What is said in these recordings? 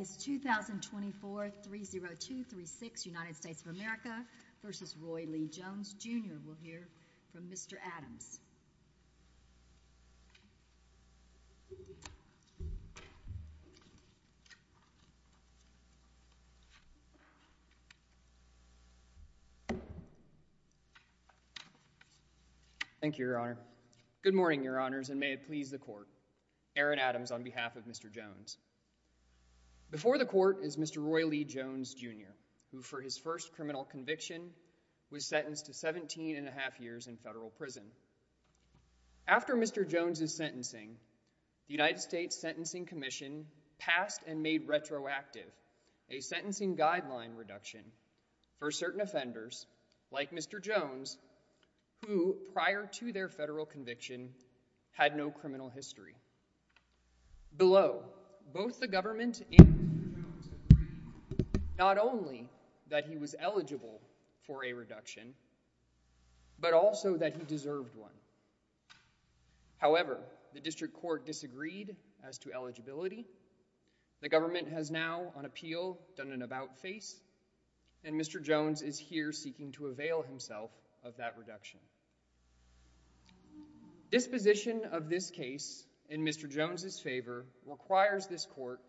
is 2024-30236 United States of America v. Roy Lee Jones Jr. We'll hear from Mr. Adams. Thank you, Your Honor. Good morning, Your Honors, and may it please the Court. Aaron Before the Court is Mr. Roy Lee Jones Jr., who for his first criminal conviction was sentenced to 17 and a half years in federal prison. After Mr. Jones' sentencing, the United States Sentencing Commission passed and made retroactive a sentencing guideline reduction for certain offenders, like Mr. Jones, who prior to their federal conviction had no criminal history. Below, both the government and Mr. Jones agreed not only that he was eligible for a reduction, but also that he deserved one. However, the District Court disagreed as to eligibility. The government has now, on appeal, done an about-face, and Mr. Jones is here seeking to avail himself of that reduction. Disposition of this case in Mr. Jones' favor requires this Court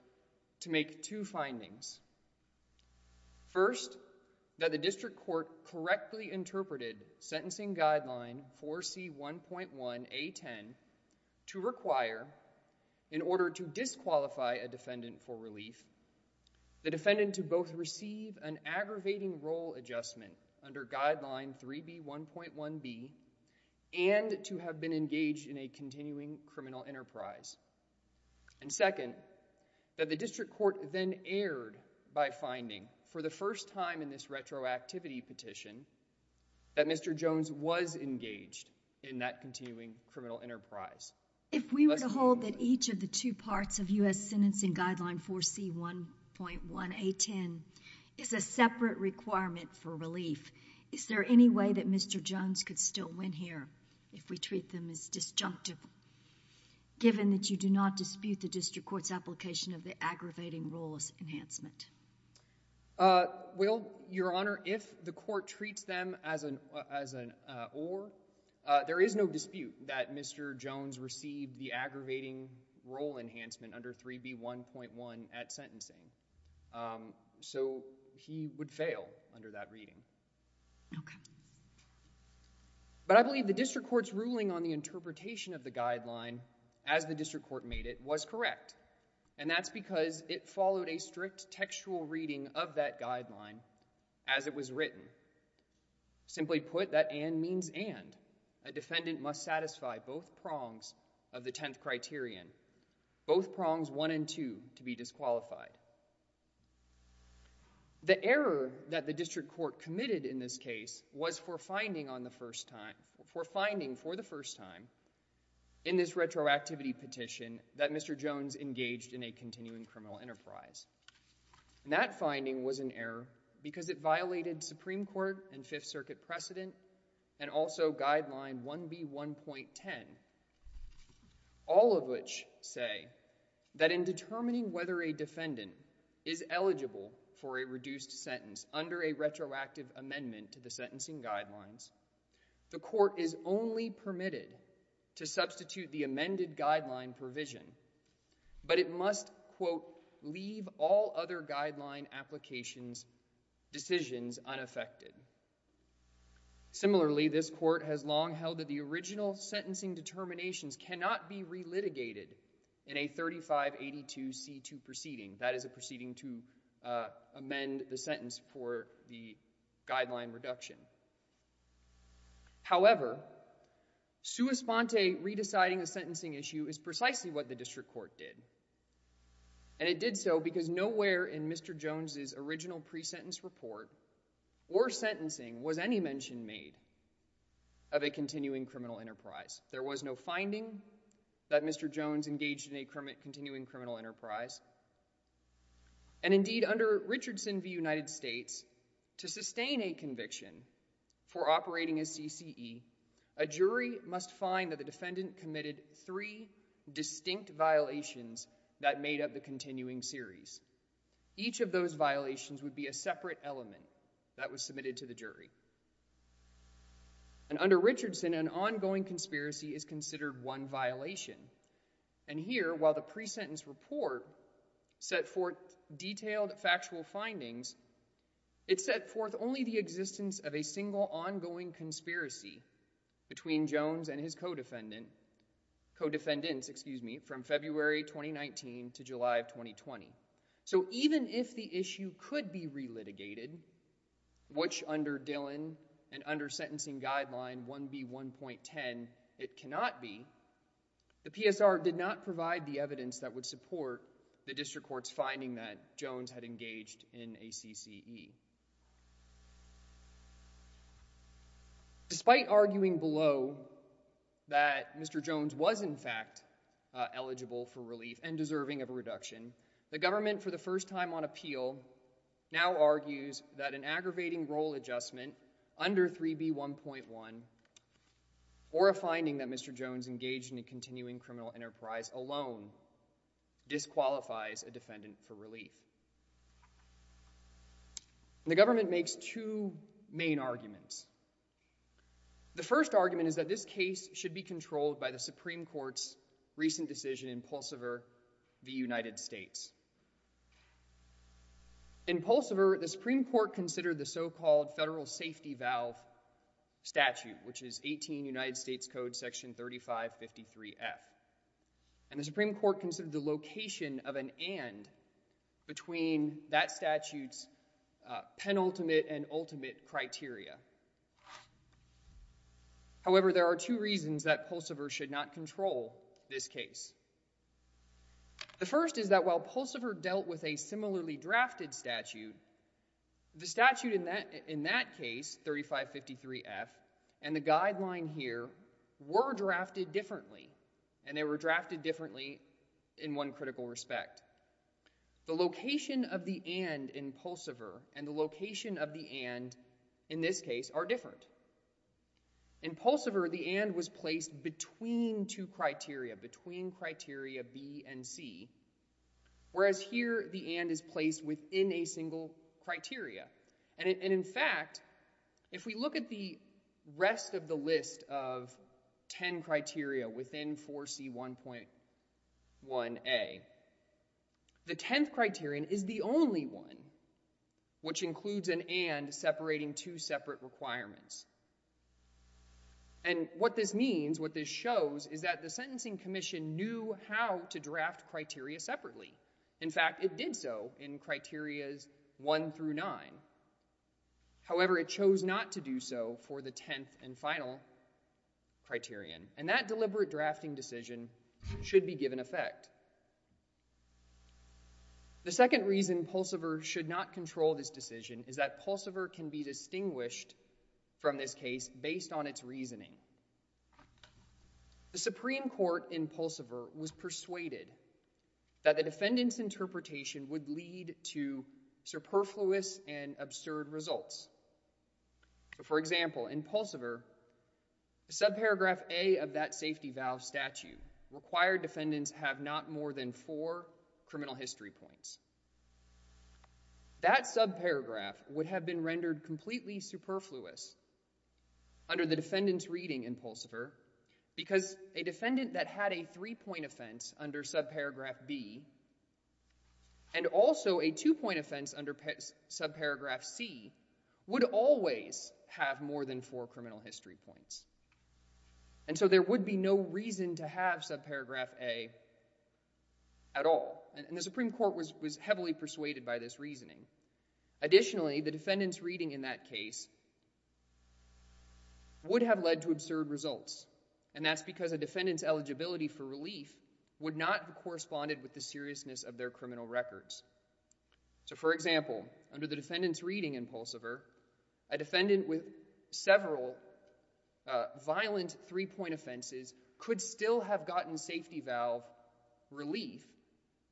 to make two findings. First, that the District Court correctly interpreted sentencing guideline 4C1.1A10 to require, in order to disqualify a defendant for relief, the defendant to both receive an aggravating role adjustment under guideline 3B1.1B and to have been engaged in a continuing criminal enterprise. And second, that the District Court then erred by finding, for the first time in this retroactivity petition, that Mr. Jones was engaged in that continuing criminal enterprise. If we were to hold that each of the two parts of U.S. Sentencing Guideline 4C1.1A10 is a separate requirement for relief, is there any way that Mr. Jones could still win here if we treat them as disjunctive, given that you do not dispute the District Court's application of the aggravating roles enhancement? Well, Your Honor, if the Court treats them as an or, there is no dispute that Mr. Jones received the aggravating role enhancement under 3B1.1 at sentencing. So he would fail under that reading. Okay. But I believe the District Court's ruling on the interpretation of the guideline as the District Court made it was correct, and that's because it followed a strict textual reading of that guideline as it was written. Simply put, that and means and. A defendant must satisfy both prongs of the 10th criterion, both prongs 1 and 2 to be disqualified. The error that the District Court committed in this case was for finding on the first time, for finding for the first time in this retroactivity petition that Mr. Jones engaged in a continuing criminal enterprise. And that finding was an error because it violated Supreme Court and Fifth Circuit precedent and also Guideline 1B1.10, all of which say that in determining whether a defendant is eligible for a reduced sentence under a retroactive amendment to the sentencing guidelines, the Court is only permitted to substitute the amended guideline provision, but it must, quote, leave all other guideline applications decisions unaffected. Similarly, this Court has long held that the original sentencing determinations cannot be re-litigated in a 3582C2 proceeding. That is a proceeding to amend the sentence for the guideline reduction. However, sua sponte, re-deciding a sentencing issue, is precisely what the District Court did. And it did so because nowhere in Mr. Jones's original pre-sentence report or sentencing was any mention made of a continuing criminal enterprise. There was no finding that Mr. Jones engaged in a continuing criminal enterprise. And indeed, under Richardson v. United States, to sustain a conviction for operating a CCE, a jury must find that the defendant committed three distinct violations that made up the continuing series. Each of those violations would be a separate element that was submitted to the jury. And under Richardson, an ongoing conspiracy is considered one violation. And here, while the pre-sentence report set forth detailed factual findings, it set forth only the existence of a single ongoing conspiracy between Jones and his co-defendants from February 2019 to July of 2020. So even if the issue could be re-litigated, which under Dillon and under sentencing guideline 1B1.10 it cannot be, the PSR did not provide the evidence that would support the District Court's finding that Jones had engaged in a CCE. Despite arguing below that Mr. Jones was in fact eligible for relief and deserving of a reduction, the government for the first time on appeal now argues that an aggravating role adjustment under 3B1.1 or a finding that Mr. Jones engaged in a continuing criminal enterprise alone disqualifies a defendant for relief. The government makes two main arguments. The first argument is that this case should be controlled by the Supreme Court's recent decision in Pulsever v. United States. In Pulsever, the Supreme Court considered the so-called federal safety valve statute, which is 18 United States Code section 3553F, and the Supreme Court considered the location of an and between that statute's penultimate and ultimate criteria. However, there are two reasons that Pulsever should not control this case. The first is that Pulsever dealt with a similarly drafted statute. The statute in that case, 3553F, and the guideline here were drafted differently, and they were drafted differently in one critical respect. The location of the and in Pulsever and the location of the and in this case are different. In Pulsever, the and was placed between two criteria, between criteria B and C, whereas here the and is placed within a single criteria. And in fact, if we look at the rest of the list of 10 criteria within 4C1.1a, the 10th criterion is the only one, which includes an and separating two separate requirements. And what this means, what this shows, is that the Sentencing Commission knew how to draft criteria separately. In fact, it did so in criterias 1 through 9. However, it chose not to do so for the 10th and final criterion, and that deliberate drafting decision should be given effect. The second reason Pulsever should not control this decision is that Pulsever can be distinguished from this case based on its reasoning. The Supreme Court in Pulsever was persuaded that the defendant's interpretation would lead to superfluous and absurd results. For example, in Pulsever, subparagraph A of that safety valve statute required defendants have not more than four criminal history points. That subparagraph would have been rendered completely superfluous under the defendant's reading in Pulsever because a defendant that had a three-point offense under subparagraph B and also a two-point offense under subparagraph C would always have more than four criminal history points. And so there would be no reason to have subparagraph A at all, and the Supreme Court was heavily persuaded by this reasoning. Additionally, the defendant's reading in that case would have led to absurd results, and that's because a defendant's eligibility for relief would not have corresponded with the seriousness of their criminal records. So, for example, under the defendant's reading in Pulsever, a defendant with several violent three-point offenses could still have gotten safety valve relief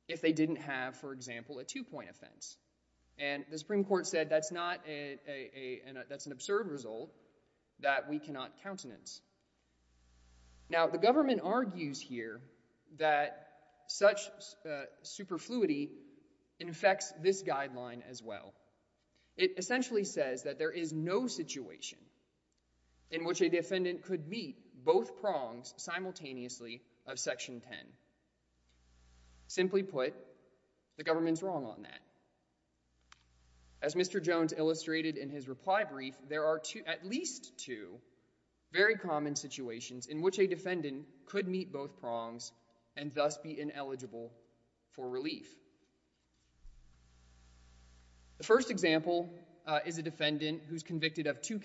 if they didn't have, for example, a two-point offense. And the Supreme Court said that's an absurd result that we cannot countenance. Now, the government argues here that such superfluity infects this guideline as well. It essentially says that there is no situation in which a defendant could meet both prongs simultaneously of section 10. Simply put, the government's wrong on that. As Mr. Jones illustrated in his reply brief, there are at least two very common situations in which a defendant could meet both prongs and thus be ineligible for relief. The first example is a defendant who's convicted of two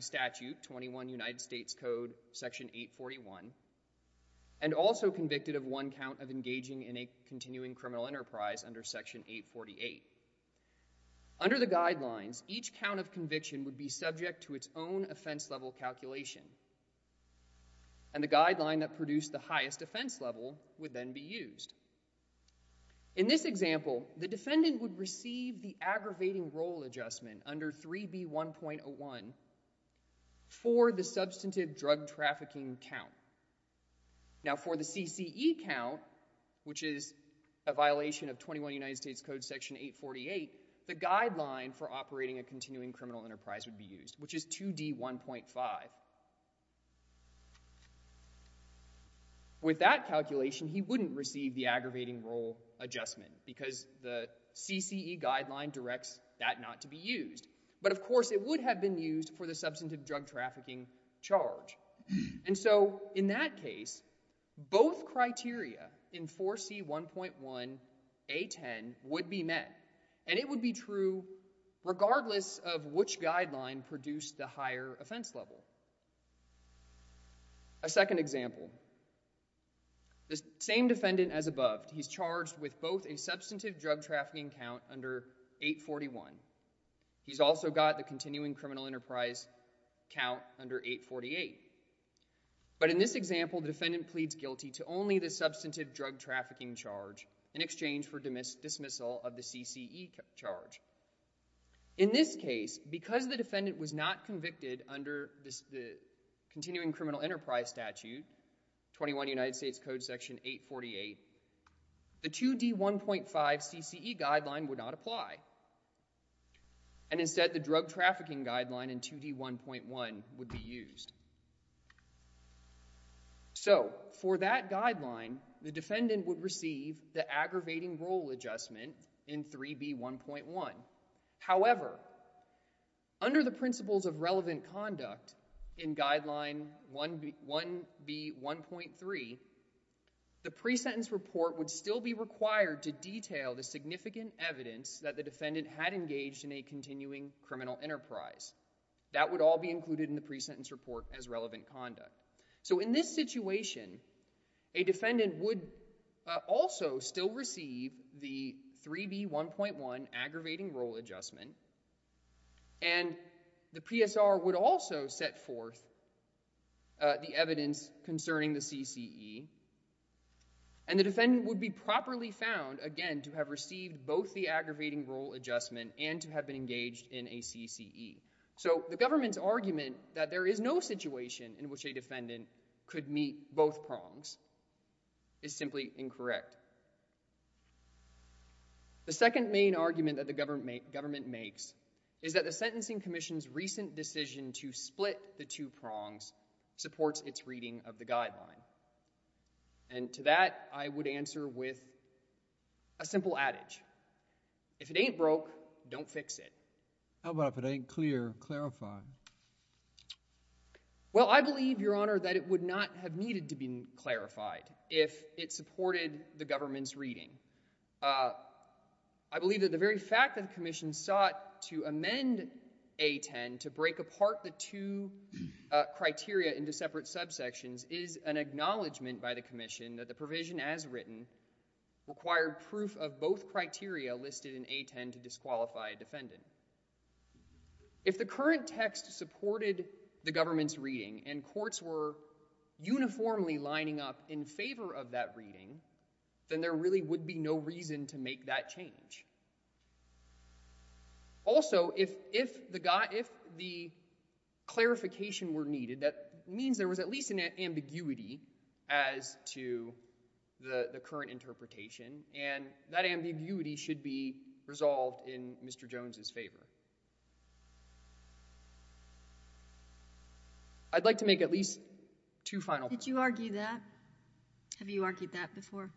statute, 21 United States Code, Section 841, and also convicted of one count of engaging in a continuing criminal enterprise under Section 848. Under the guidelines, each count of conviction would be subject to its own offense level calculation, and the guideline that produced the highest offense level would then be used. In this example, the defendant would receive the aggravating role adjustment under 3B1.01 for the substantive drug trafficking count. Now, for the CCE count, which is a violation of 21 United States Code, Section 848, the guideline for operating a continuing criminal enterprise would be used, which is 2D1.5. With that calculation, he wouldn't receive the aggravating role adjustment, because the CCE guideline directs that not to be used. But of course, it would have been used for the substantive drug trafficking charge. And so in that case, both criteria in 4C1.1A10 would be met, and it would be true regardless of which guideline produced the higher offense level. A second example, the same defendant as above, he's charged with both a substantive drug trafficking count under 841. He's also got the continuing criminal enterprise count under 848. But in this example, the defendant pleads guilty to only the substantive drug trafficking charge in exchange for dismissal of the CCE charge. In this case, because the defendant was not convicted under the continuing criminal enterprise statute, 21 United States Code, Section 848, the 2D1.5 CCE guideline would not apply. And instead, the drug trafficking guideline in 2D1.1 would be used. So for that guideline, the defendant would receive the aggravating role adjustment in 3B1.1. However, under the principles of relevant conduct in guideline 1B1.3, the pre-sentence report would still be required to detail the significant evidence that the defendant had engaged in a continuing criminal enterprise. That would all be included in the pre-sentence report as relevant conduct. So in this situation, a defendant would also still receive the 3B1.1 aggravating role adjustment. And the PSR would also set forth the evidence concerning the CCE. And the defendant would be properly found, again, to have received both the aggravating role adjustment and to have been engaged in a CCE. So the government's argument that there is no situation in which a defendant could meet both prongs is simply incorrect. The second main argument that the government makes is that the Sentencing Commission's recent decision to split the two prongs supports its reading of the guideline. And to that, I would answer with a simple adage. If it ain't broke, don't fix it. How about if it ain't clear, clarified? Well, I believe, Your Honor, that it would not have needed to be clarified if it supported the government's reading. I believe that the very fact that the Commission sought to amend A10 to break apart the two criteria into separate subsections is an acknowledgment by the Commission that the provision as written required proof of both criteria listed in A10 to disqualify a defendant. If the current text supported the government's reading and courts were uniformly lining up in favor of that reading, then there really would be no reason to make that change. Also, if the clarification were needed, that means there was at least an ambiguity as to the current interpretation, and that ambiguity should be resolved in Mr. Jones's favor. I'd like to make at least two final— Would you argue that? Have you argued that before?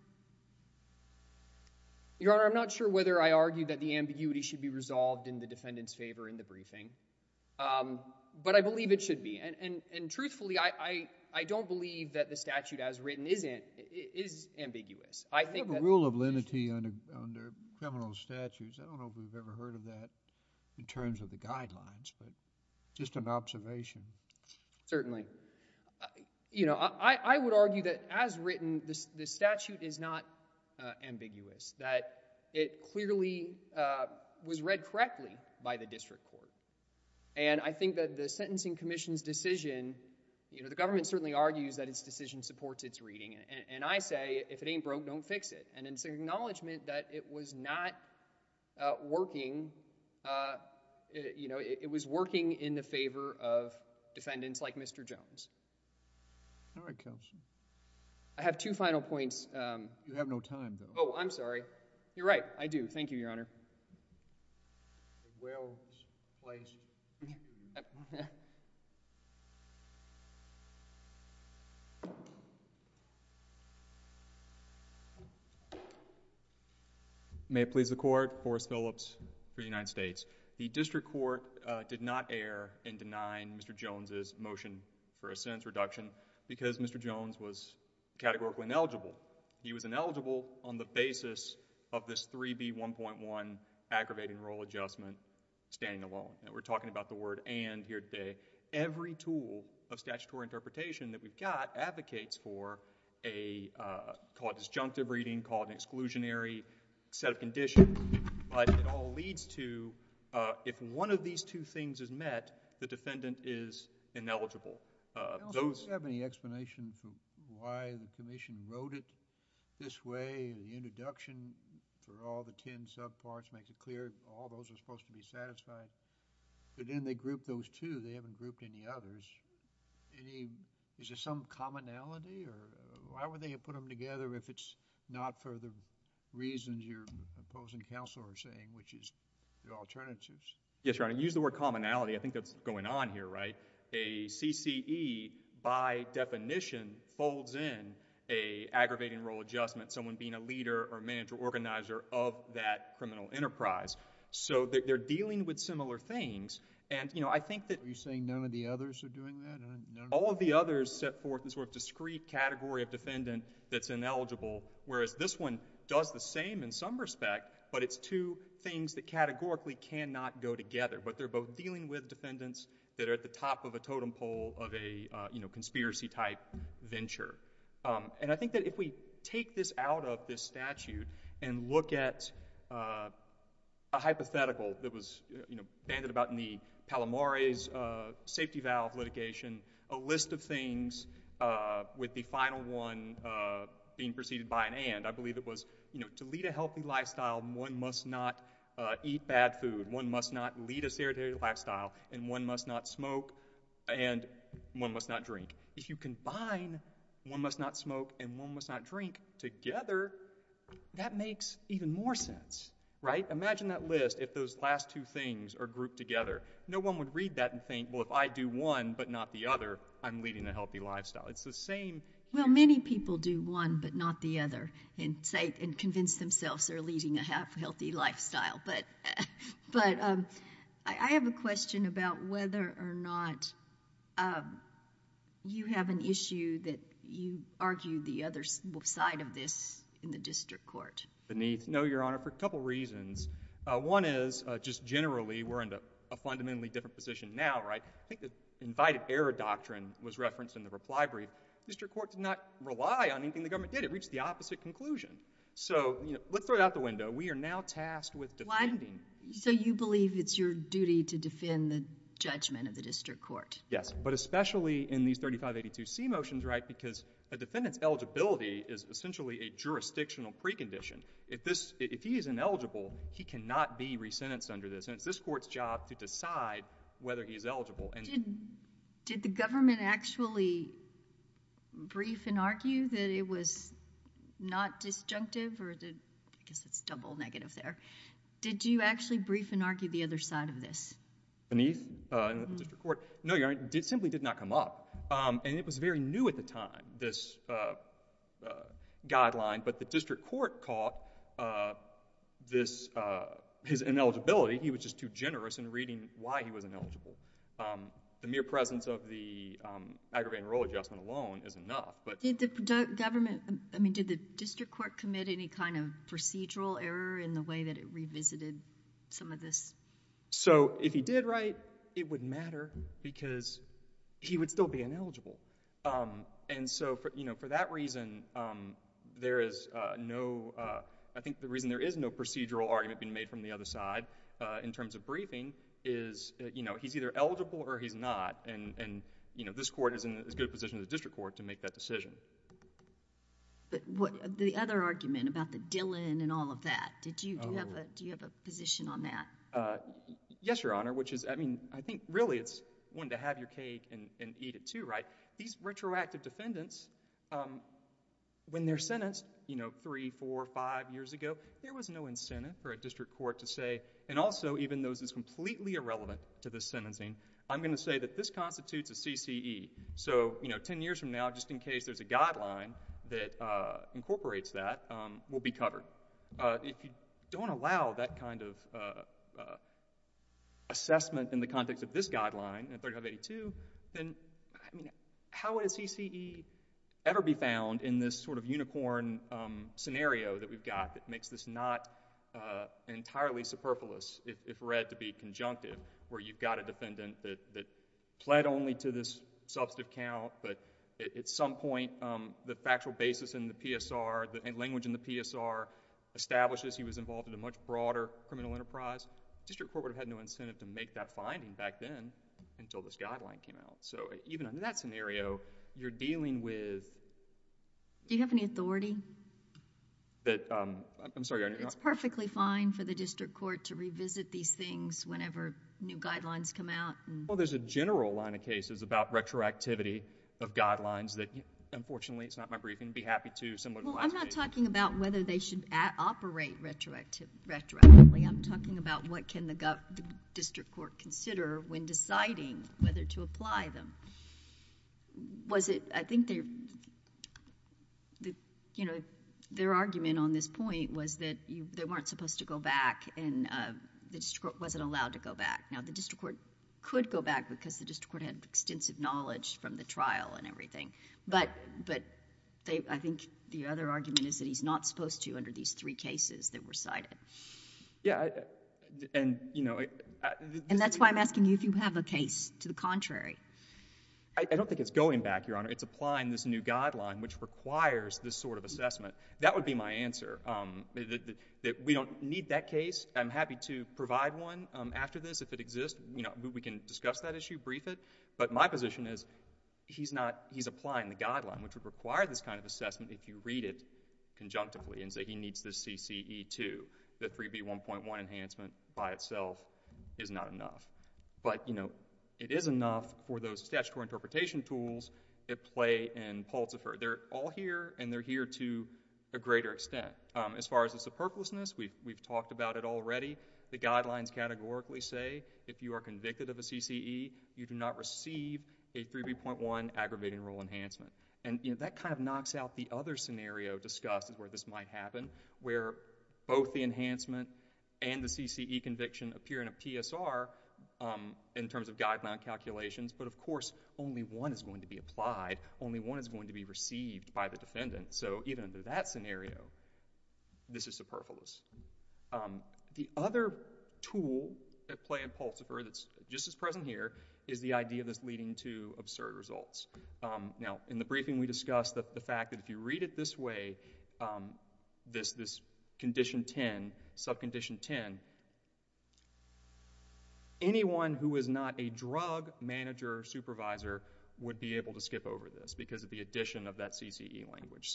Your Honor, I'm not sure whether I argue that the ambiguity should be resolved in the defendant's favor in the briefing, but I believe it should be. And truthfully, I don't believe that the statute as written is ambiguous. I think that— We have a rule of lenity under criminal statutes. I don't know if we've ever heard of that in terms of the guidelines, but just an observation. Certainly. You know, I would argue that as written, the statute is not ambiguous, that it clearly was read correctly by the district court. And I think that the Sentencing Commission's decision—you know, the government certainly argues that its decision supports its reading, and I say, if it ain't broke, don't fix it. And it's an acknowledgement that it was not working—you know, it was working in the favor of defendants like Mr. Jones. All right, Counselor. I have two final points. You have no time, though. Oh, I'm sorry. You're right. I do. Thank you, Your Honor. May it please the Court. Forrest Phillips for the United States. The district court did not err in denying Mr. Jones' motion for a sentence reduction because Mr. Jones was categorically ineligible. He was ineligible on the basis of this 3B1.1 aggravating rule adjustment, standing alone. We're talking about the word and here today. Every tool of statutory interpretation that we've got advocates for a, call it disjunctive reading, call it an exclusionary set of conditions, but it all leads to, if one of these two things is met, the defendant is ineligible. Counsel, do you have any explanation for why the commission wrote it this way, the introduction for all the 10 subparts makes it clear all those are supposed to be satisfied, but then they group those two. They haven't grouped any others. Any, is there some commonality or why would they have put them together if it's not for the reasons your opposing counsel are saying, which is the alternatives? Yes, Your Honor. Use the word commonality. I think that's going on here, right? A CCE by definition folds in a aggravating rule adjustment, someone being a leader or manager organizer of that criminal enterprise. They're dealing with similar things. I think that... Are you saying none of the others are doing that? All of the others set forth a discrete category of defendant that's ineligible, whereas this one does the same in some respect, but it's two things that categorically cannot go together, but they're both dealing with defendants that are at the top of a totem pole of a conspiracy type venture. I think that if we take this out of this statute and look at a hypothetical that was banded about in the Palomare's safety valve litigation, a list of things with the final one being preceded by an and, I believe it was to lead a healthy lifestyle, one must not eat bad food, one must not lead a sedentary lifestyle, and one must not smoke and one must not drink. If you combine one must not smoke and one must not drink together, that makes even more sense, right? Imagine that list if those last two things are grouped together. No one would read that and think, well, if I do one but not the other, I'm leading a healthy lifestyle. It's the same... Well, many people do one but not the other and convince themselves they're leading a healthy lifestyle, but I have a question about whether or not you have an issue that you argue the other side of this in the district court. No, Your Honor, for a couple reasons. One is, just generally, we're in a fundamentally different position now, right? I think the invited error doctrine was referenced in the reply brief. The district court did not rely on anything the government did. It reached the opposite conclusion. So, you know, let's throw out the window. We are now tasked with defending... So, you believe it's your duty to defend the judgment of the district court? Yes, but especially in these 3582C motions, right, because a defendant's eligibility is essentially a jurisdictional precondition. If he is ineligible, he cannot be resentenced under this, and it's this court's job to decide whether he's eligible. Did the government actually brief and argue that it was not disjunctive or... I guess it's double negative there. Did you actually brief and argue the other side of this? Beneath the district court? No, Your Honor, it simply did not come up, and it was very new at the time, this guideline, but the district court caught his ineligibility. He was just too generous in reading why he was ineligible. The mere presence of the aggravating rule adjustment alone is enough, but... Did the government, I mean, did the district court commit any kind of procedural error in the way that it revisited some of this? So, if he did write, it would matter because he would still be ineligible, and so, you know, for that reason, there is no... I think the reason there is no procedural argument being made from the other side in terms of briefing is, you know, he's either eligible or he's not, and, you know, this court is in as good a position as the district court to make that decision. But what... the other argument about the Dillon and all of that, did you have a position on that? Yes, Your Honor, which is, I mean, I think really it's one to have your cake and eat it too, right? These retroactive defendants, when they're sentenced, you know, three, four, five years ago, there was no incentive for a district court to say, and also, even though this is completely irrelevant to the sentencing, I'm going to say that this constitutes a CCE. So, you know, ten years from now, just in case there's a guideline that incorporates that, we'll be covered. If you don't allow that kind of assessment in the context of this guideline, 3582, then, I mean, how would a CCE ever be found in this sort of unicorn scenario that we've got that makes this not entirely superfluous, if read to be conjunctive, where you've got a defendant that pled only to this substantive count, but at some point, the factual basis in the PSR, the language in the PSR, establishes he was involved in a much broader criminal enterprise, district court would have no incentive to make that finding back then until this guideline came out. So, even under that scenario, you're dealing with... Do you have any authority? That... I'm sorry. It's perfectly fine for the district court to revisit these things whenever new guidelines come out? Well, there's a general line of cases about retroactivity of guidelines that, unfortunately, it's not my brief, and I'd be happy to... Well, I'm not talking about whether they should operate retroactively. I'm talking about what the district court can consider when deciding whether to apply them. I think their argument on this point was that they weren't supposed to go back and the district court wasn't allowed to go back. Now, the district court could go back because the district court had extensive knowledge from the trial and everything, but I think the other argument is that he's not supposed to under these three cases that were cited. Yeah. And, you know... And that's why I'm asking you if you have a case to the contrary. I don't think it's going back, Your Honor. It's applying this new guideline which requires this sort of assessment. That would be my answer, that we don't need that case. I'm happy to provide one after this if it exists. You know, we can discuss that issue, brief it, but my position is he's not... he's applying the guideline which would require this kind of assessment if you read it conjunctively and say he needs this CCE too. The 3B.1.1 enhancement by itself is not enough. But, you know, it is enough for those statutory interpretation tools at play in Pultefer. They're all here and they're here to a greater extent. As far as the superfluousness, we've talked about it already. The guidelines categorically say if you are convicted of a CCE, you do not receive a 3B.1 aggravating rule enhancement. And, you know, that kind of knocks out the other scenario discussed where this might happen where both the enhancement and the CCE conviction appear in a PSR in terms of guideline calculations. But, of course, only one is going to be applied. Only one is going to be received by the defendant. So even under that scenario, this is superfluous. The other tool at play in the briefing we discussed the fact that if you read it this way, this condition 10, subcondition 10, anyone who is not a drug manager or supervisor would be able to skip over this because of the addition of that CCE language.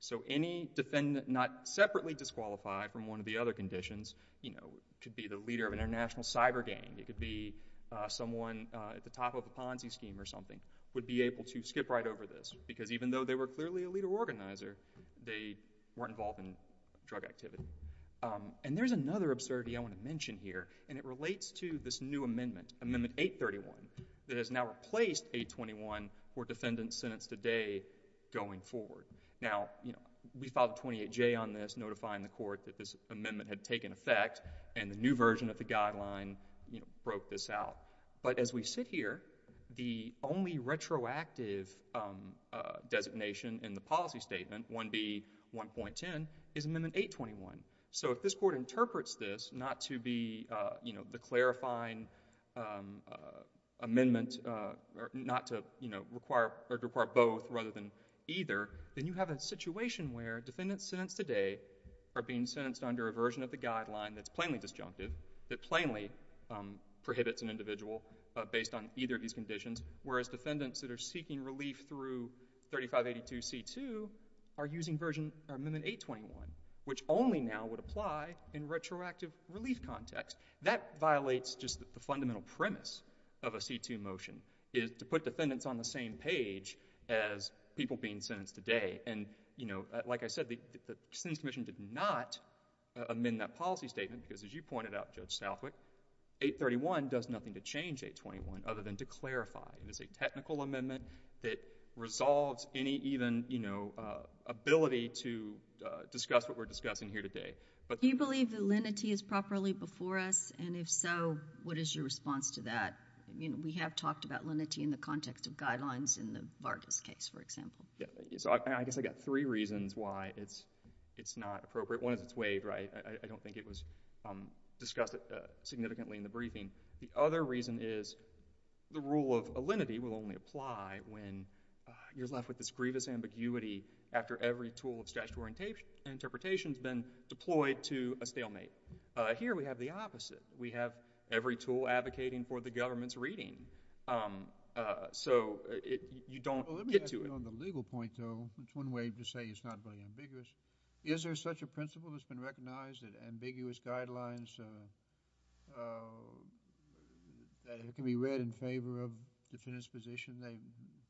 So any defendant not separately disqualified from one of the other conditions, you know, could be the leader of an international cyber gang. It could be someone at the top of a Ponzi scheme or something would be able to skip right over this because even though they were clearly a leader organizer, they weren't involved in drug activity. And there's another absurdity I want to mention here and it relates to this new amendment, Amendment 831, that has now replaced 821 for defendants sentenced today going forward. Now, you know, we filed 28J on this notifying the court that this amendment had taken effect and the new version of the guideline, you know, broke this out. But as we sit here, the only retroactive designation in the policy statement, 1B, 1.10, is Amendment 821. So if this court interprets this not to be, you know, the clarifying amendment or not to, you know, require both rather than either, then you have a situation where defendants sentenced today are being sentenced under a version of the guideline that's plainly disjunctive, that plainly prohibits an individual based on either of these conditions, whereas defendants that are seeking relief through 3582C2 are using Amendment 821, which only now would apply in retroactive relief context. That violates just the fundamental premise of a C2 motion, is to put defendants on the same page as people being sentenced today. And, you know, like I said, the Sentencing Commission did not amend that policy statement because as you pointed out, Judge Southwick, 831 does nothing to change 821 other than to clarify. It is a technical amendment that resolves any even, you know, ability to discuss what we're discussing here today. Do you believe that lenity is properly before us? And if so, what is your response to that? You know, we have talked about lenity in the context of guidelines in the Vargas case, for example. Yeah, so I guess I got three reasons why it's not appropriate. One is it's waived, right? I don't think it was discussed significantly in the briefing. The other reason is the rule of lenity will only apply when you're left with this grievous ambiguity after every tool of statutory interpretation has been deployed to a stalemate. Here we have the opposite. We have every tool advocating for the government's reading. So you don't get to it. Well, let me ask you on the legal point, though. It's one way to say it's not very ambiguous. Is there such a principle that's been recognized that ambiguous guidelines that can be read in favor of defendant's position,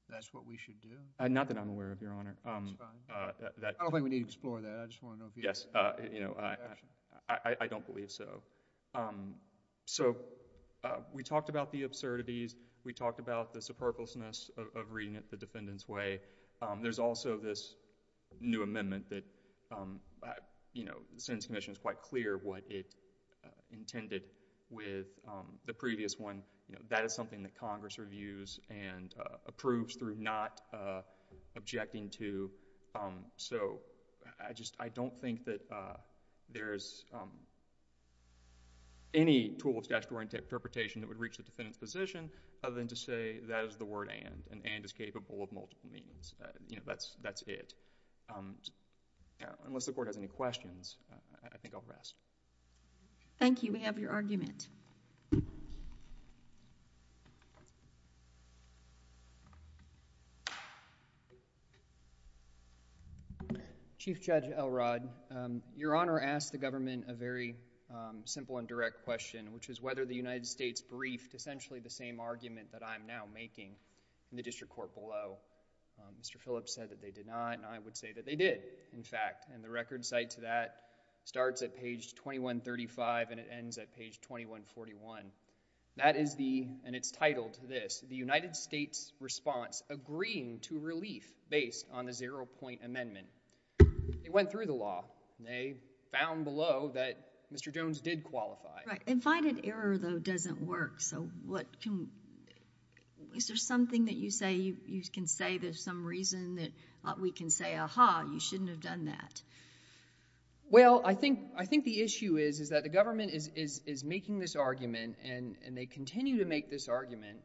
that's what we should do? Not that I'm aware of, Your Honor. That's fine. I don't think we need to explore that. I just want to know if you... Yes. You know, I don't believe so. So we talked about the absurdities. We talked about the superfluousness of reading it the defendant's way. There's also this new amendment that, you know, the Sentencing Commission is quite clear what it intended with the previous one. You know, that is something that Congress reviews and approves through not objecting to. So I just... I don't think that there's any tool of statutory interpretation that would reach the defendant's position other than to say that is the word and, and and is capable of multiple meanings. You know, that's it. Unless the Court has any questions, I think I'll rest. Thank you. We have your argument. Chief Judge Elrod, Your Honor asked the government a very simple and direct question, which is whether the United States briefed essentially the same argument that I'm now making in the District Court below. Mr. Phillips said that they did not, and I would say that they did, in fact, and the record cited to that starts at page 2135 and it ends at page 2141. That is the, and it's titled this, the United States response agreeing to relief based on a zero-point amendment. They went through the law and they found below that Mr. Jones did qualify. Right. And finding error, though, doesn't work. So what can... is there something that you say you can say there's some reason that we can say, aha, you shouldn't have done that? Well, I think, I think the issue is, is that the government is, is, is making this argument, and, and they continue to make this argument,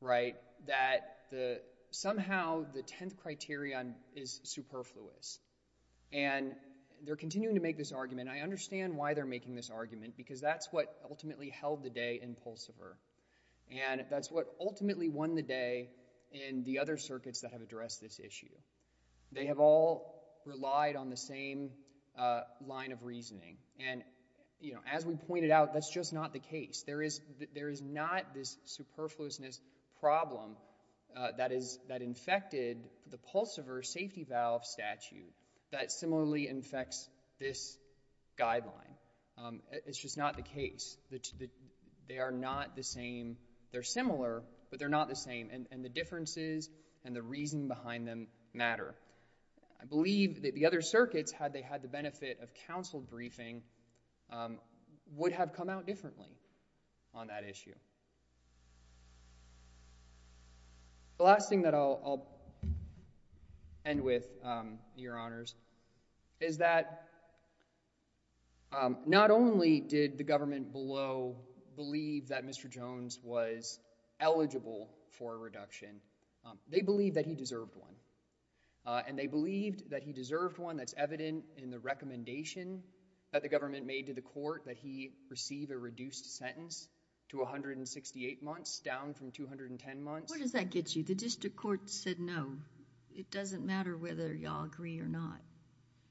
right, that the, somehow the tenth criterion is superfluous. And they're continuing to make this argument. I understand why they're making this argument, because that's what ultimately held the day in Pulsever, and that's what ultimately won the day in the other circuits that have addressed this issue. They have all relied on the same line of reasoning. And, you know, as we pointed out, that's just not the case. There is, there is not this superfluousness problem that is, that infected the Pulsever safety valve statute that similarly infects this guideline. It's just not the case. They are not the same. They're similar, but they're not the same. And the differences and the reason behind them matter. I believe that the other circuits, had they had the benefit of counsel briefing, would have come out differently on that issue. The last thing that I'll, I'll end with, Your Honors, is that not only did the government below believe that Mr. Jones was eligible for a reduction, they believed that he deserved one. And they believed that he deserved one that's evident in the recommendation that the government made to the court, that he receive a reduced sentence to 168 months, down from 210 months. What does that get you? The district court said no. It doesn't matter whether y'all agree or not.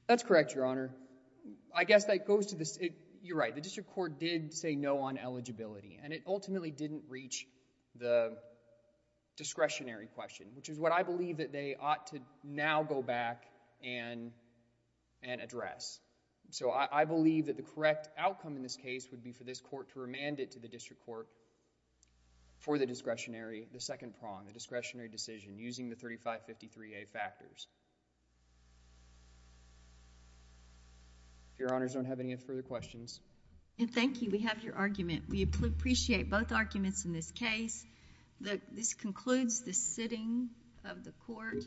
That's correct, Your Honor. I guess that goes to the, you're right, the district court did say no on eligibility. And it ultimately didn't reach the discretionary question, which is what I believe that they ought to now go back and, and address. So I, I believe that the correct outcome in this case would be for this court to remand it to the district court for the discretionary, the second prong, the discretionary using the 3553A factors. If Your Honors don't have any further questions. And thank you. We have your argument. We appreciate both arguments in this case. The, this concludes the sitting of the court.